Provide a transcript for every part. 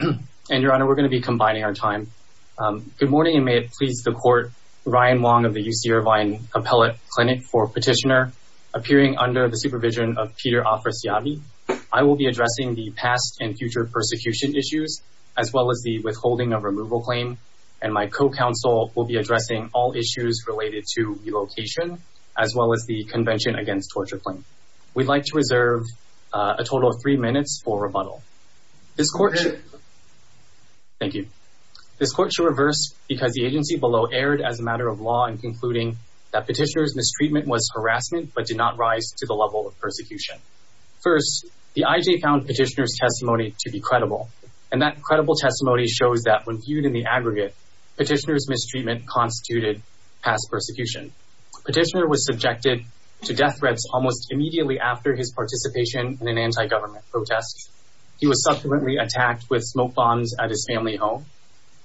And your honor, we're going to be combining our time. Um, good morning and may it please the court. Ryan Wong of the UC Irvine Appellate Clinic for Petitioner appearing under the supervision of Peter Afrasiabi. I will be addressing the past and future persecution issues, as well as the withholding of removal claim. And my co-counsel will be addressing all issues related to relocation, as well as the convention against torture claim. We'd like to reserve a total of three minutes for rebuttal. This court should reverse because the agency below erred as a matter of law in concluding that petitioner's mistreatment was harassment, but did not rise to the level of persecution. First, the IJ found petitioner's testimony to be credible. And that credible testimony shows that when viewed in the aggregate, petitioner's mistreatment constituted past persecution. Petitioner was subjected to death threats almost immediately after his participation in an anti-government protest. He was subsequently attacked with smoke bombs at his family home.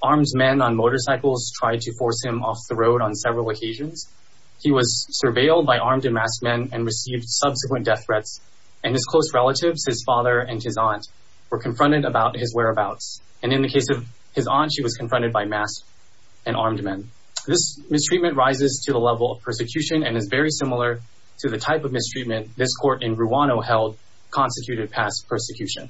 Armed men on motorcycles tried to force him off the road on several occasions. He was surveilled by armed and masked men and received subsequent death threats. And his close relatives, his father and his aunt, were confronted about his whereabouts. And in the case of his aunt, she was confronted by masked and armed men. This mistreatment rises to the level of persecution and is very similar to the type of mistreatment this court in Ruano held constituted past persecution.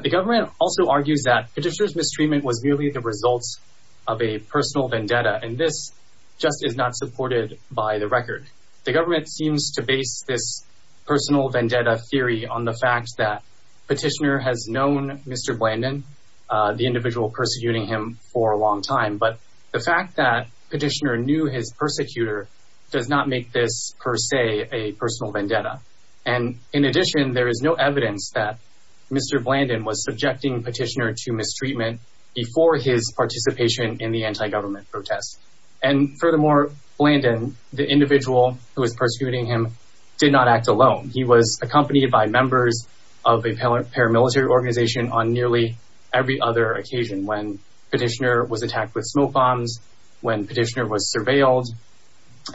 The government also argues that petitioner's mistreatment was merely the results of a personal vendetta. And this just is not supported by the record. The government seems to base this personal vendetta theory on the fact that petitioner has known Mr. Blandon, the individual persecuting him for a long time. But the fact that petitioner knew his persecutor does not make this per se a personal vendetta. And in addition, there is no evidence that Mr. Blandon was subjecting petitioner to mistreatment before his participation in the anti-government protest. And furthermore, Blandon, the individual who was persecuting him, did not act alone. He was accompanied by members of a paramilitary organization on nearly every other occasion when petitioner was attacked with smoke bombs, when petitioner was surveilled,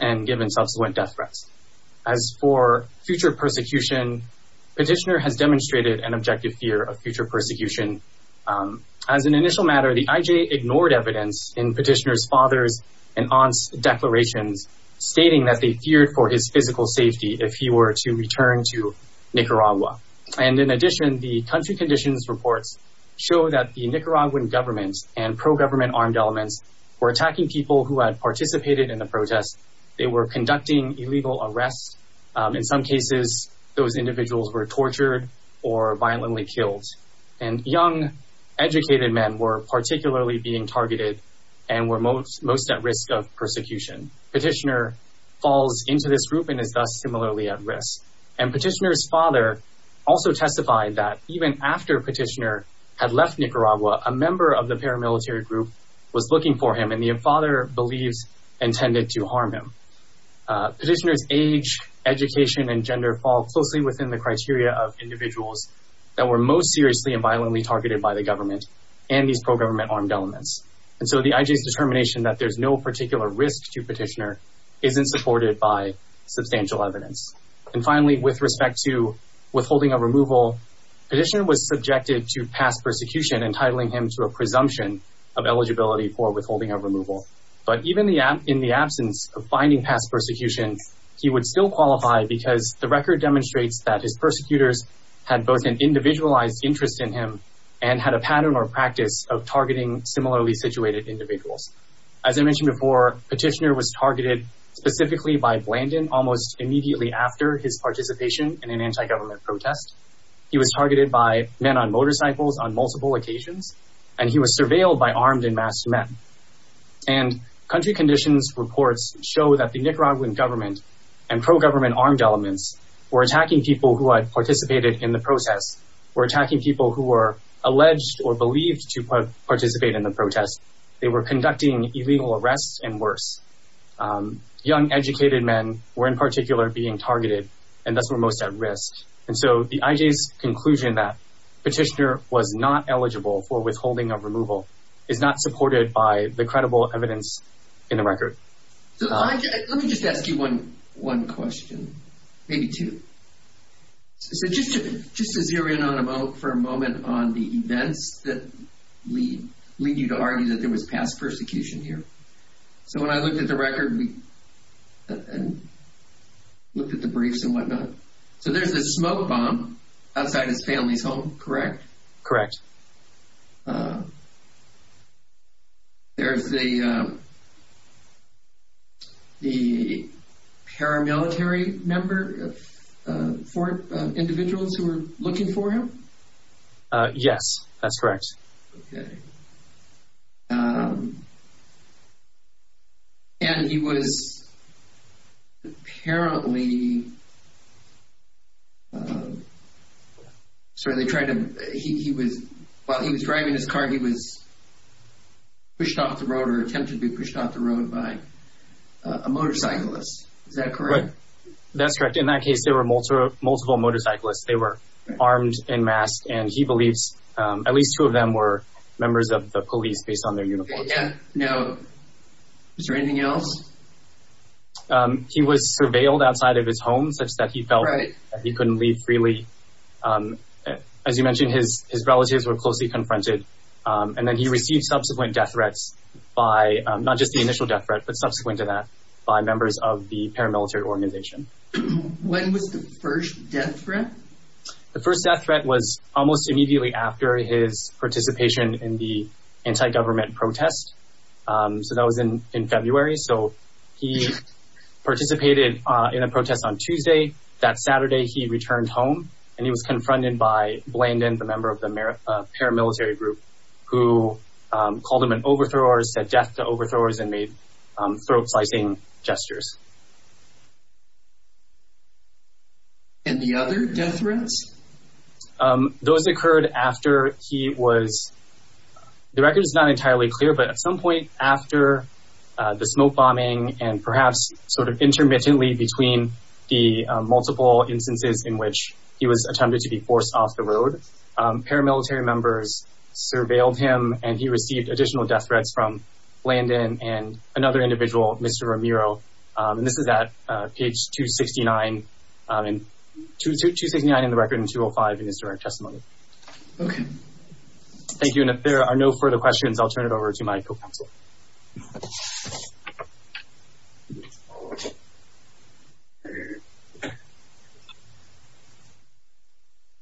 and given subsequent death threats. As for future persecution, petitioner has demonstrated an objective fear of future persecution. As an initial matter, the IJ ignored evidence in petitioner's father's and aunt's declarations stating that they feared for his physical safety if he were to return to Nicaragua. And in addition, the country conditions reports show that the Nicaraguan government and pro-government armed elements were attacking people who had participated in the protest. They were conducting illegal arrests. In some cases, those individuals were tortured or violently killed. And young, educated men were particularly being targeted and were most at risk of persecution. Petitioner falls into this group and is thus similarly at risk. And petitioner's father also testified that even after petitioner had left Nicaragua, a member of the paramilitary group was looking for him and the Petitioner's age, education, and gender fall closely within the criteria of individuals that were most seriously and violently targeted by the government and these pro-government armed elements. And so the IJ's determination that there's no particular risk to petitioner isn't supported by substantial evidence. And finally, with respect to withholding of removal, petitioner was subjected to past persecution, entitling him to a presumption of eligibility for withholding of removal. But even in the absence of finding past persecution, he would still qualify because the record demonstrates that his persecutors had both an individualized interest in him and had a pattern or practice of targeting similarly situated individuals. As I mentioned before, petitioner was targeted specifically by Blandon almost immediately after his participation in an anti-government protest. He was targeted by men on motorcycles on multiple occasions, and he was surveilled by armed and masked men. And country conditions reports show that the Nicaraguan government and pro-government armed elements were attacking people who had participated in the process, were attacking people who were alleged or believed to participate in the protest. They were conducting illegal arrests and worse. Young educated men were in particular being targeted and thus were most at risk. And so the IJ's conclusion that petitioner was not eligible for the credible evidence in the record. So let me just ask you one question, maybe two. So just to zero in on a moment on the events that lead you to argue that there was past persecution here. So when I looked at the record, we looked at the briefs and whatnot. So there's a smoke bomb outside his family's home, correct? Correct. There's the, the paramilitary member, four individuals who were looking for him? Yes, that's correct. Okay. And he was apparently, so they tried to, he was, while he was driving his car, he was pushed off the road or attempted to be pushed off the road by a motorcyclist, is that correct? That's correct. In that case, there were multiple motorcyclists. They were armed and masked. And he believes at least two of them were members of the police based on their uniforms. Yeah. Now, is there anything else? He was surveilled outside of his home such that he felt that he couldn't leave freely. As you mentioned, his, his relatives were closely confronted and then he received subsequent death threats by, not just the initial death threat, but subsequent to that by members of the paramilitary organization. When was the first death threat? The first death threat was almost immediately after his participation in the anti-government protest. So that was in, in February. So he participated in a protest on Tuesday. That Saturday, he returned home. And he was confronted by Blandon, the member of the paramilitary group, who called him an overthrower, said death to overthrowers and made throat slicing gestures. And the other death threats? Those occurred after he was, the record is not entirely clear, but at some point after the smoke bombing and perhaps sort of intermittently between the multiple instances in which he was attempted to be forced off the road, paramilitary members surveilled him and he received additional death threats from Blandon and another individual, Mr. Romero, and this is at page 269, 269 in the record and 205 in his direct testimony. Okay. Thank you. And if there are no further questions, I'll turn it over to my co-counselor.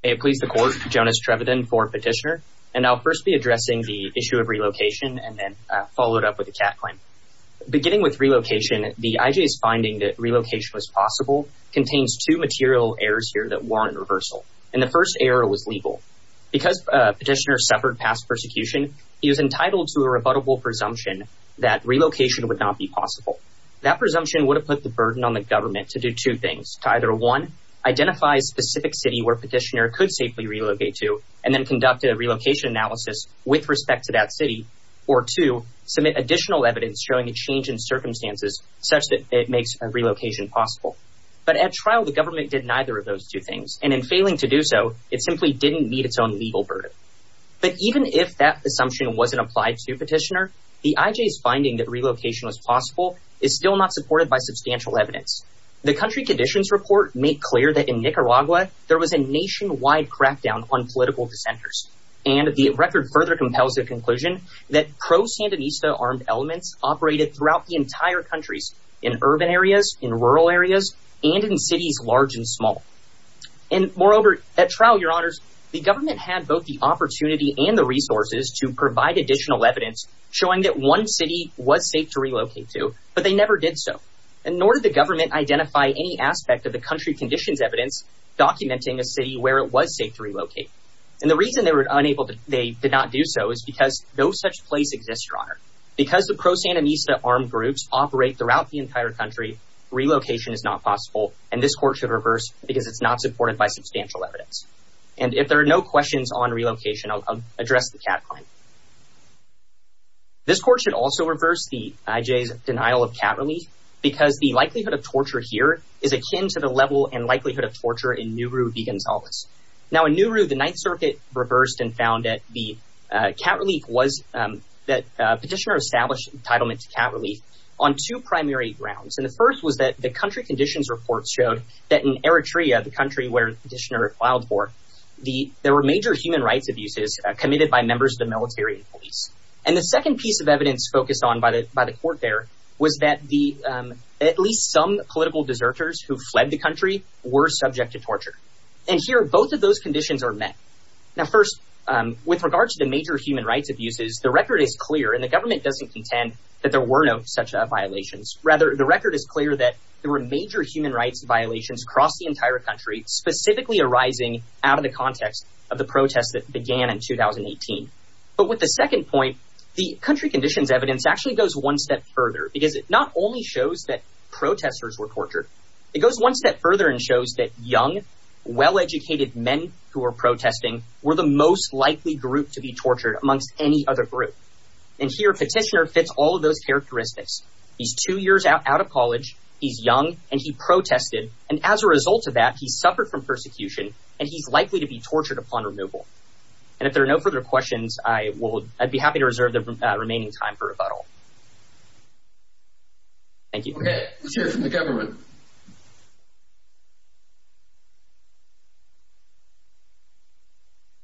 Hey, please. The court, Jonas Treveden for petitioner. And I'll first be addressing the issue of relocation and then follow it up with a cat claim. Beginning with relocation, the IJ's finding that relocation was possible contains two material errors here that warrant reversal. And the first error was legal. Because petitioner suffered past persecution, he was entitled to a rebuttable presumption that relocation would not be possible. That presumption would have put the burden on the government to do two things. To either one, identify a specific city where petitioner could safely relocate to, and then conduct a relocation analysis with respect to that city. Or two, submit additional evidence showing a change in circumstances such that it makes a relocation possible. But at trial, the government did neither of those two things. And in failing to do so, it simply didn't meet its own legal burden. But even if that assumption wasn't applied to petitioner, the IJ's finding that relocation was possible is still not supported by substantial evidence. The country conditions report made clear that in Nicaragua, there was a nationwide crackdown on political dissenters. And the record further compels the conclusion that pro-Sandinista armed elements operated throughout the entire countries, in urban areas, in rural areas, and in cities large and small. And moreover, at trial, your honors, the government had both the opportunity and the resources to provide additional evidence showing that one city was safe to relocate to, but they never did so. And nor did the government identify any aspect of the country conditions evidence documenting a city where it was safe to relocate. And the reason they were unable to, they did not do so is because no such place exists, your honor. Because the pro-Sandinista armed groups operate throughout the entire country, relocation is not possible. And this court should reverse because it's not supported by substantial evidence. And if there are no questions on relocation, I'll address the cat claim. This court should also reverse the IJ's denial of cat relief because the likelihood of torture here is akin to the level and likelihood of torture in Nuru, Viganzales. Now in Nuru, the Ninth Circuit reversed and found that the cat relief was, that petitioner established entitlement to cat relief on two primary grounds. And the first was that the country conditions report showed that in Eritrea, the country where the petitioner filed for, the, there were major human rights abuses committed by members of the military and police. And the second piece of evidence focused on by the, by the court there was that the, at least some political deserters who fled the country were subject to torture. And here, both of those conditions are met. Now, first, with regard to the major human rights abuses, the record is clear and the government doesn't contend that there were no such violations. Rather, the record is clear that there were major human rights violations across the entire country, specifically arising out of the context of the protests that began in 2018. But with the second point, the country conditions evidence actually goes one step further because it not only shows that protesters were tortured, it goes one step further and shows that young, well-educated men who were protesting were the most likely group to be tortured amongst any other group. And here, petitioner fits all of those characteristics. He's two years out of college, he's young and he protested. And as a result of that, he suffered from persecution and he's likely to be tortured upon removal. And if there are no further questions, I will, I'd be happy to reserve the remaining time for rebuttal. Thank you. Okay, let's hear it from the government.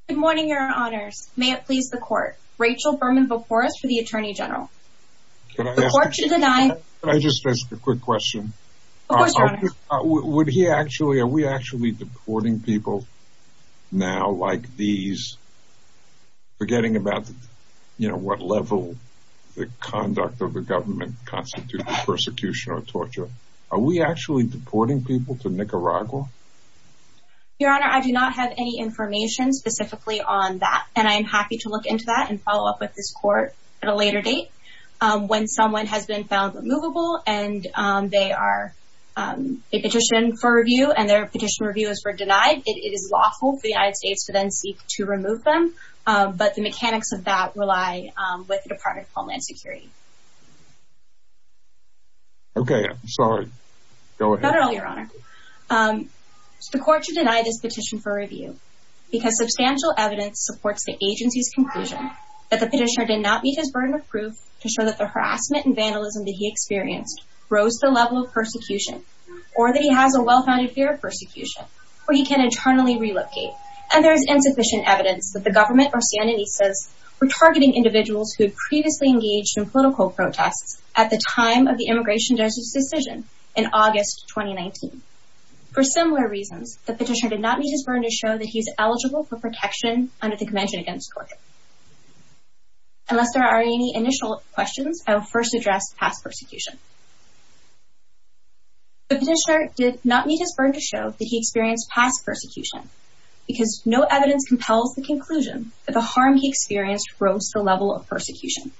Good morning, your honors. May it please the court. Rachel Berman-Voporos for the attorney general. Can I ask a question? Can I just ask a quick question? Of course, your honor. Would he actually, are we actually deporting people now like these, forgetting about, you know, what level the conduct of the government constitutes persecution or torture? Are we actually deporting people to Nicaragua? Your honor, I do not have any information specifically on that. And I'm happy to look into that and follow up with this court at a later date, when someone has been found removable and they are a petition for review and their petition review is for denied, it is lawful for the United States to then seek to remove them. But the mechanics of that rely with the Department of Homeland Security. Okay, I'm sorry. Go ahead. Not at all, your honor. The court should deny this petition for review because substantial evidence supports the agency's conclusion that the petitioner did not meet his burden of proof to show that the harassment and vandalism that he experienced rose to the level of persecution, or that he has a well-founded fear of persecution, or he can internally relocate. And there's insufficient evidence that the government or Siena Nises were targeting individuals who had previously engaged in political protests at the time of the immigration justice decision in August, 2019. For similar reasons, the petitioner did not meet his burden to show that he's eligible for protection under the convention against torture. Unless there are any initial questions, I will first address past persecution. The petitioner did not meet his burden to show that he experienced past persecution because no evidence compels the conclusion that the harm he experienced rose to the level of persecution.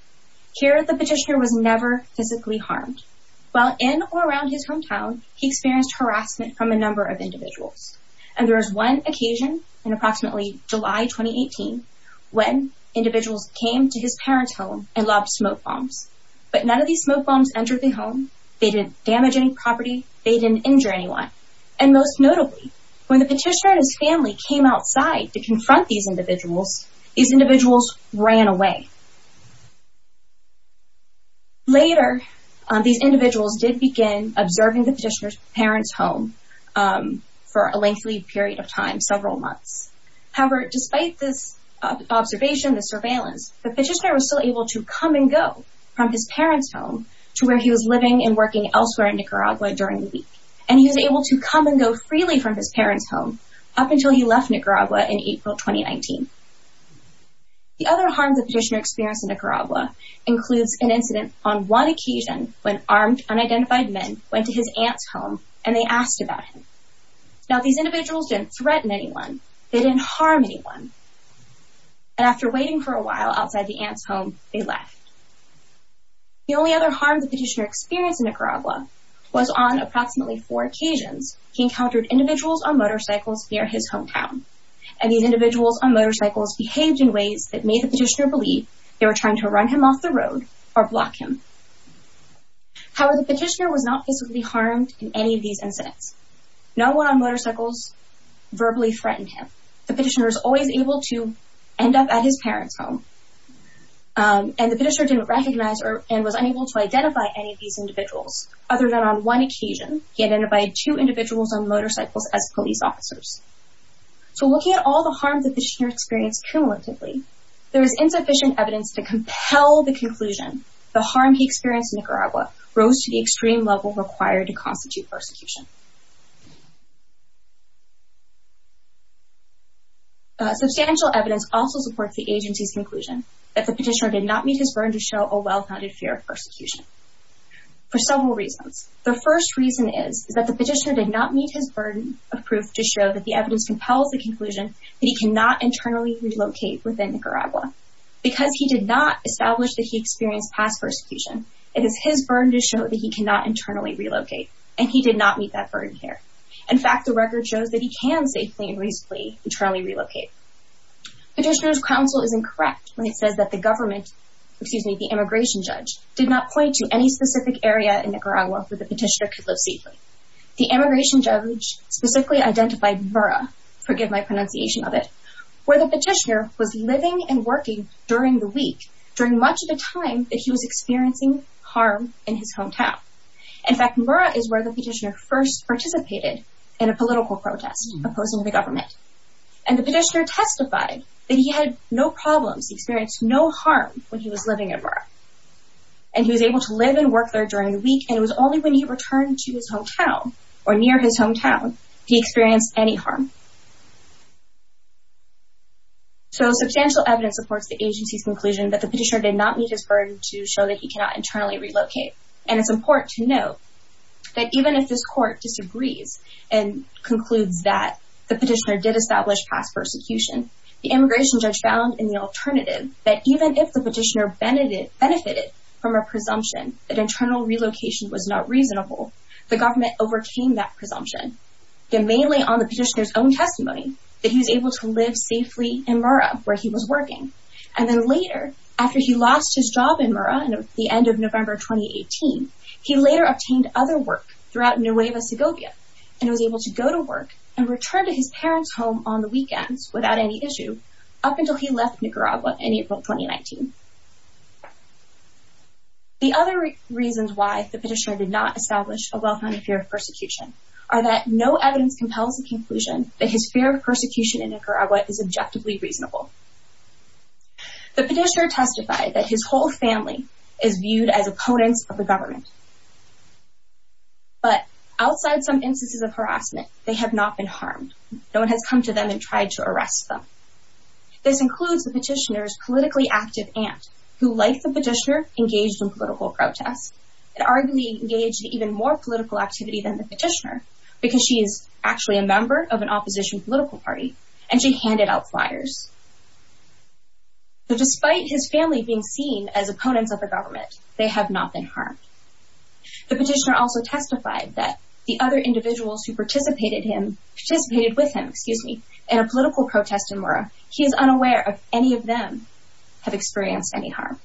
Here, the petitioner was never physically harmed. While in or around his hometown, he experienced harassment from a number of individuals, and there was one occasion in approximately July, 2018, when individuals came to his parents' home and lobbed smoke bombs, but none of these smoke bombs entered the home. They didn't damage any property. They didn't injure anyone. And most notably, when the petitioner and his family came outside to confront these individuals, these individuals ran away. Later, these individuals did begin observing the petitioner's parents' home for a lengthy period of time, several months. However, despite this observation, the surveillance, the petitioner was still able to come and go from his parents' home to where he was living and working elsewhere in Nicaragua during the week. And he was able to come and go freely from his parents' home up until he left Nicaragua in April, 2019. The other harms the petitioner experienced in Nicaragua includes an incident on one occasion when armed, unidentified men went to his aunt's home and they asked about him. Now, these individuals didn't threaten anyone. They didn't harm anyone. And after waiting for a while outside the aunt's home, they left. The only other harm the petitioner experienced in Nicaragua was on approximately four occasions, he encountered individuals on motorcycles near his hometown. And these individuals on motorcycles behaved in ways that made the petitioner believe they were trying to run him off the road or block him. However, the petitioner was not physically harmed in any of these incidents. No one on motorcycles verbally threatened him. The petitioner was always able to end up at his parents' home. And the petitioner didn't recognize or, and was unable to identify any of these individuals other than on one occasion, he identified two individuals on motorcycles as police officers. So looking at all the harms that the petitioner experienced cumulatively, there is insufficient evidence to compel the conclusion the harm he experienced in Nicaragua rose to the extreme level required to constitute persecution. Substantial evidence also supports the agency's conclusion that the petitioner did not meet his burden to show a well-founded fear of persecution for several reasons. The first reason is that the petitioner did not meet his burden of proof to show that the evidence compels the conclusion that he cannot internally relocate within Nicaragua. Because he did not establish that he experienced past persecution, it is his burden to show that he cannot internally relocate, and he did not meet that fear. In fact, the record shows that he can safely and reasonably internally relocate. Petitioner's counsel is incorrect when it says that the government, excuse me, the immigration judge did not point to any specific area in Nicaragua where the petitioner could live safely. The immigration judge specifically identified Murrah, forgive my pronunciation of it, where the petitioner was living and working during the week, during much of the time that he was experiencing harm in his hometown. In fact, Murrah is where the petitioner first participated in a political protest opposing the government. And the petitioner testified that he had no problems, he experienced no harm when he was living in Murrah. And he was able to live and work there during the week, and it was only when he returned to his hometown or near his hometown, he experienced any harm. So substantial evidence supports the agency's conclusion that the petitioner did not meet his burden to show that he cannot internally relocate. And it's important to note that even if this court disagrees and concludes that the petitioner did establish past persecution, the immigration judge found in the alternative that even if the petitioner benefited from a presumption that internal relocation was not reasonable, the government overcame that presumption, that mainly on the petitioner's own testimony, that he was able to live safely in Murrah where he was working. And then later, after he lost his job in Murrah at the end of November 2018, he later obtained other work throughout Nueva Segovia and was able to go to work and return to his parents' home on the weekends without any issue up until he left Nicaragua in April 2019. The other reasons why the petitioner did not establish a well-founded fear of persecution are that no evidence compels the conclusion that his fear of persecution in Nicaragua is objectively reasonable. The petitioner testified that his whole family is viewed as opponents of the government, but outside some instances of harassment, they have not been harmed. No one has come to them and tried to arrest them. This includes the petitioner's politically active aunt who, like the petitioner, engaged in political protest and arguably engaged in even more political activity than the petitioner because she is actually a member of an opposition political party and she handed out flyers. So despite his family being seen as opponents of the government, they have not been harmed. The petitioner also testified that the other individuals who participated him, participated with him, excuse me, in a political protest in Murrah, he is unaware of any of them have experienced any harm.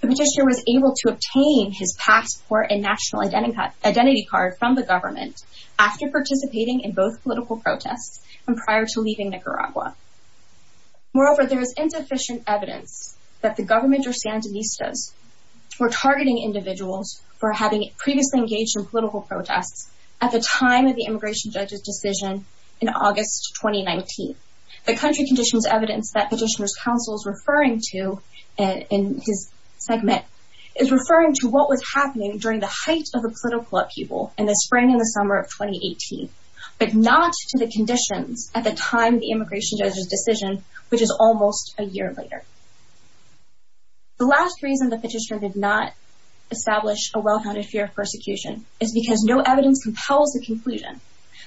The petitioner was able to obtain his passport and national identity card from the government after participating in both political protests and prior to leaving Nicaragua. Moreover, there is insufficient evidence that the government or Sandinistas were targeting individuals for having previously engaged in political protests at the time of the immigration judge's decision in August, 2019. The country conditions evidence that petitioner's counsel is referring to in his segment is referring to what was happening during the height of the political upheaval in the spring and the summer of 2018, but not to the decision, which is almost a year later. The last reason the petitioner did not establish a well-founded fear of persecution is because no evidence compels the conclusion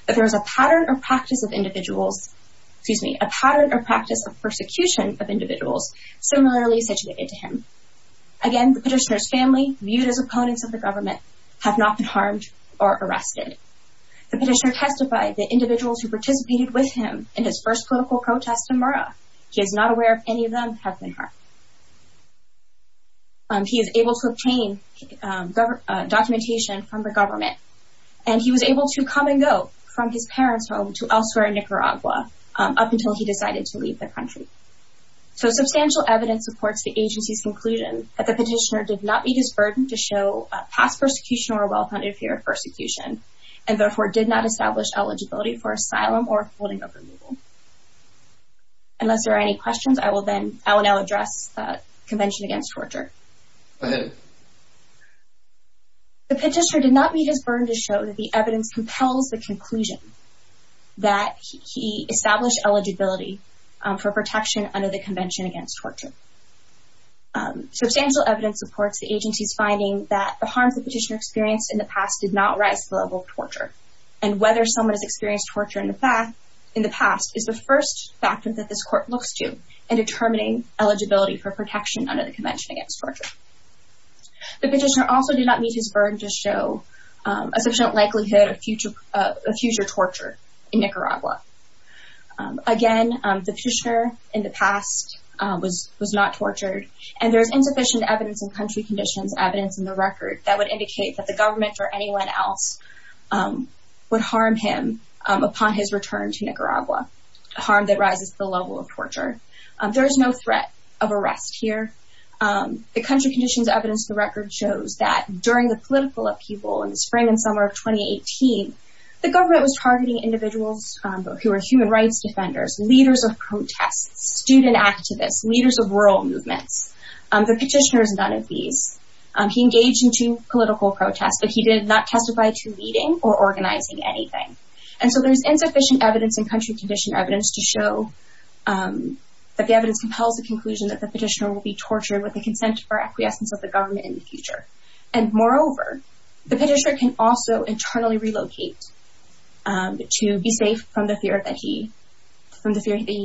that there is a pattern or practice of individuals, excuse me, a pattern or practice of persecution of individuals similarly situated to him. Again, the petitioner's family, viewed as opponents of the government, have not been harmed or arrested. The petitioner testified that individuals who participated with him in his first political protest in Mara, he is not aware of any of them have been harmed. He is able to obtain documentation from the government, and he was able to come and go from his parents' home to elsewhere in Nicaragua up until he decided to leave the country. So substantial evidence supports the agency's conclusion that the petitioner did not meet his burden to show a past persecution or well-founded fear of persecution, and therefore did not establish eligibility for asylum or holding of removal. Unless there are any questions, I will now address the Convention Against Torture. The petitioner did not meet his burden to show that the evidence compels the conclusion that he established eligibility for protection under the Convention Against Torture. Substantial evidence supports the agency's finding that the harms the petitioner experienced in the past did not rise to the level of torture, and whether someone has experienced torture in the past is the first factor that this court looks to in determining eligibility for protection under the Convention Against Torture. The petitioner also did not meet his burden to show a sufficient likelihood of future torture in Nicaragua. Again, the petitioner in the past was not tortured, and there's insufficient evidence in country conditions, evidence in the record, that would indicate that the government or anyone else would harm him upon his return to Nicaragua, a harm that rises to the level of torture. There is no threat of arrest here. The country conditions evidence in the record shows that during the political upheaval in the spring and summer of 2018, the government was targeting individuals who were human rights defenders, leaders of protests, student activists, leaders of rural movements. The petitioner is none of these. He engaged in two political protests, but he did not testify to leading or organizing anything. And so there's insufficient evidence in country condition evidence to show that the evidence compels the conclusion that the petitioner will be tortured with the consent or acquiescence of the government in the future. And moreover, the petitioner can also internally relocate to be safe from the fear that he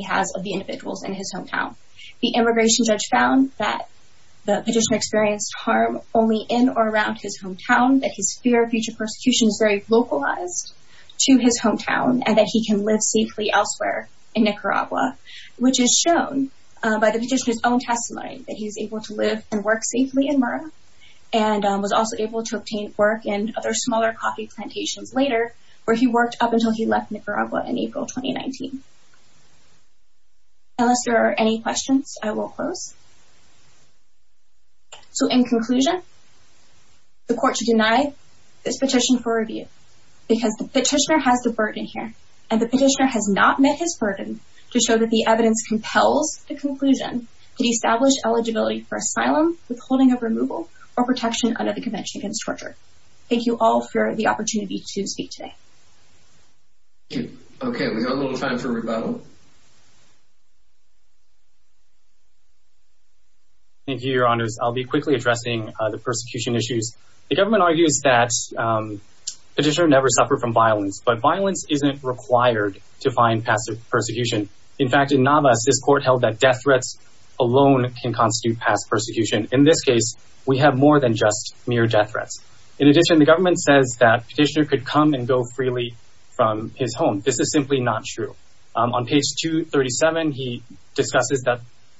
has of the individuals in his hometown. The immigration judge found that the petitioner experienced harm only in or around his hometown, that his fear of future persecution is very localized to his hometown and that he can live safely elsewhere in Nicaragua, which is shown by the petitioner's own testimony that he's able to live and work safely in Murrah and was also able to obtain work in other smaller coffee plantations later, where he worked up until he left Nicaragua in April, 2019. Unless there are any questions, I will close. So in conclusion, the court should deny this petition for review because the petitioner has the burden here and the petitioner has not met his burden to show that the evidence compels the conclusion that he established eligibility for asylum, withholding of removal, or protection under the Convention Against Torture. Thank you all for the opportunity to speak today. Okay. We've got a little time for one more question. Rebuttal. Thank you, your honors. I'll be quickly addressing the persecution issues. The government argues that petitioner never suffered from violence, but violence isn't required to find passive persecution. In fact, in Navas, this court held that death threats alone can constitute past persecution. In this case, we have more than just mere death threats. In addition, the government says that petitioner could come and go freely from his home. This is simply not true. On page 237, he discusses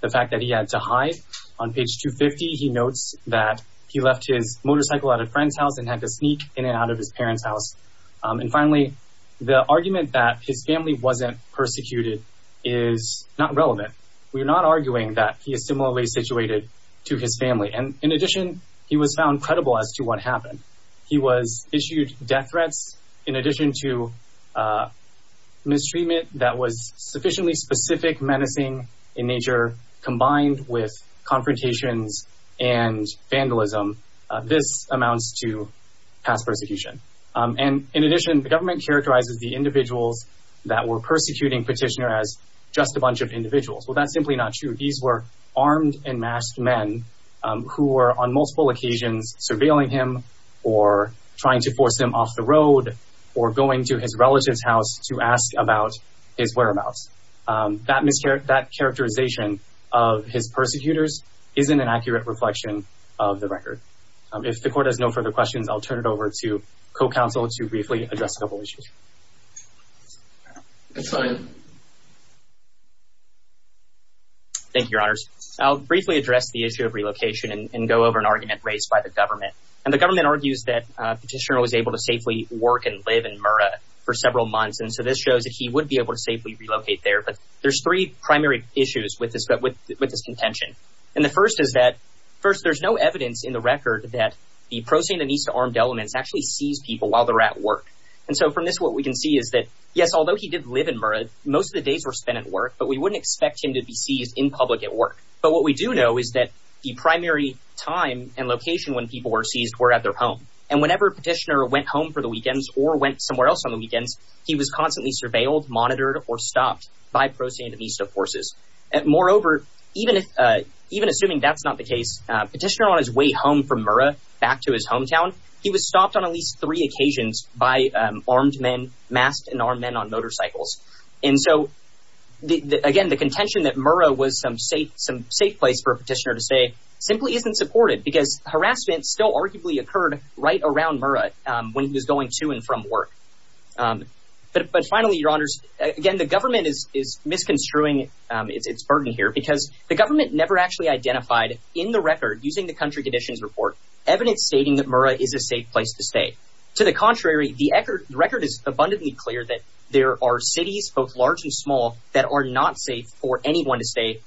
the fact that he had to hide. On page 250, he notes that he left his motorcycle at a friend's house and had to sneak in and out of his parents' house. And finally, the argument that his family wasn't persecuted is not relevant. We're not arguing that he is similarly situated to his family. And in addition, he was found credible as to what happened. He was issued death threats in addition to mistreatment that was sufficiently specific menacing in nature combined with confrontations and vandalism. This amounts to past persecution. And in addition, the government characterizes the individuals that were persecuting petitioner as just a bunch of individuals. Well, that's simply not true. These were armed and masked men who were on multiple occasions surveilling him, or trying to force him off the road, or going to his relative's house to ask about his whereabouts. That characterization of his persecutors isn't an accurate reflection of the record. If the court has no further questions, I'll turn it over to co-counsel to briefly address a couple of issues. Thank you, your honors. I'll briefly address the issue of relocation and go over an argument raised by the government. And the government argues that petitioner was able to safely work and live in Murrah for several months. And so this shows that he would be able to safely relocate there. But there's three primary issues with this contention. And the first is that, first, there's no evidence in the record that the pro-Sindonesia armed elements actually seized people while they're at work. And so from this, what we can see is that, yes, although he did live in Murrah, most of the days were spent at work, but we wouldn't expect him to be seized in public at work. But what we do know is that the primary time and location when people were seized were at their home. And whenever petitioner went home for the weekends or went somewhere else on the weekends, he was constantly surveilled, monitored, or stopped by pro-Sindonesia forces. And moreover, even assuming that's not the case, petitioner on his way home from Murrah back to his hometown, he was stopped on at least three occasions by armed men, masked and armed men on motorcycles. And so again, the contention that Murrah was some safe place for a petitioner to stay simply isn't supported because harassment still arguably occurred right around Murrah when he was going to and from work. But finally, your honors, again, the government is misconstruing its burden here because the government never actually identified in the record, using the country conditions report, evidence stating that Murrah is a safe place to stay. To the contrary, the record is abundantly clear that there are cities, both large and small, that are not safe for anyone to stay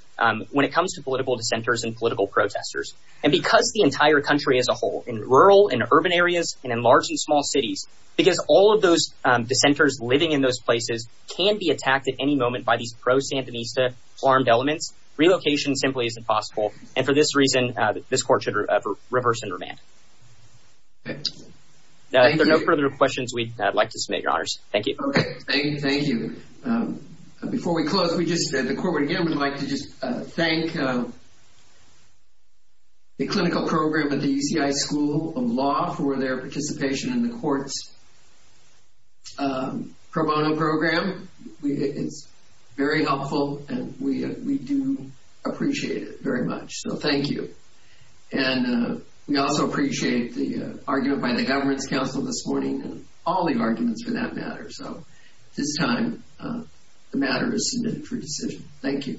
when it comes to political protestors. And because the entire country as a whole, in rural and urban areas and in large and small cities, because all of those dissenters living in those places can be attacked at any moment by these pro-Santa Mista armed elements, relocation simply isn't possible. And for this reason, this court should reverse and remand. Now, if there are no further questions, we'd like to submit, your honors. Thank you. Thank you. Before we close, we just said the court would again would like to thank the clinical program at the UCI School of Law for their participation in the court's pro bono program. It's very helpful and we do appreciate it very much. So thank you. And we also appreciate the argument by the Governance Council this morning and all the arguments for that matter. So at this time, the matter is submitted for decision. Thank you. Thank you.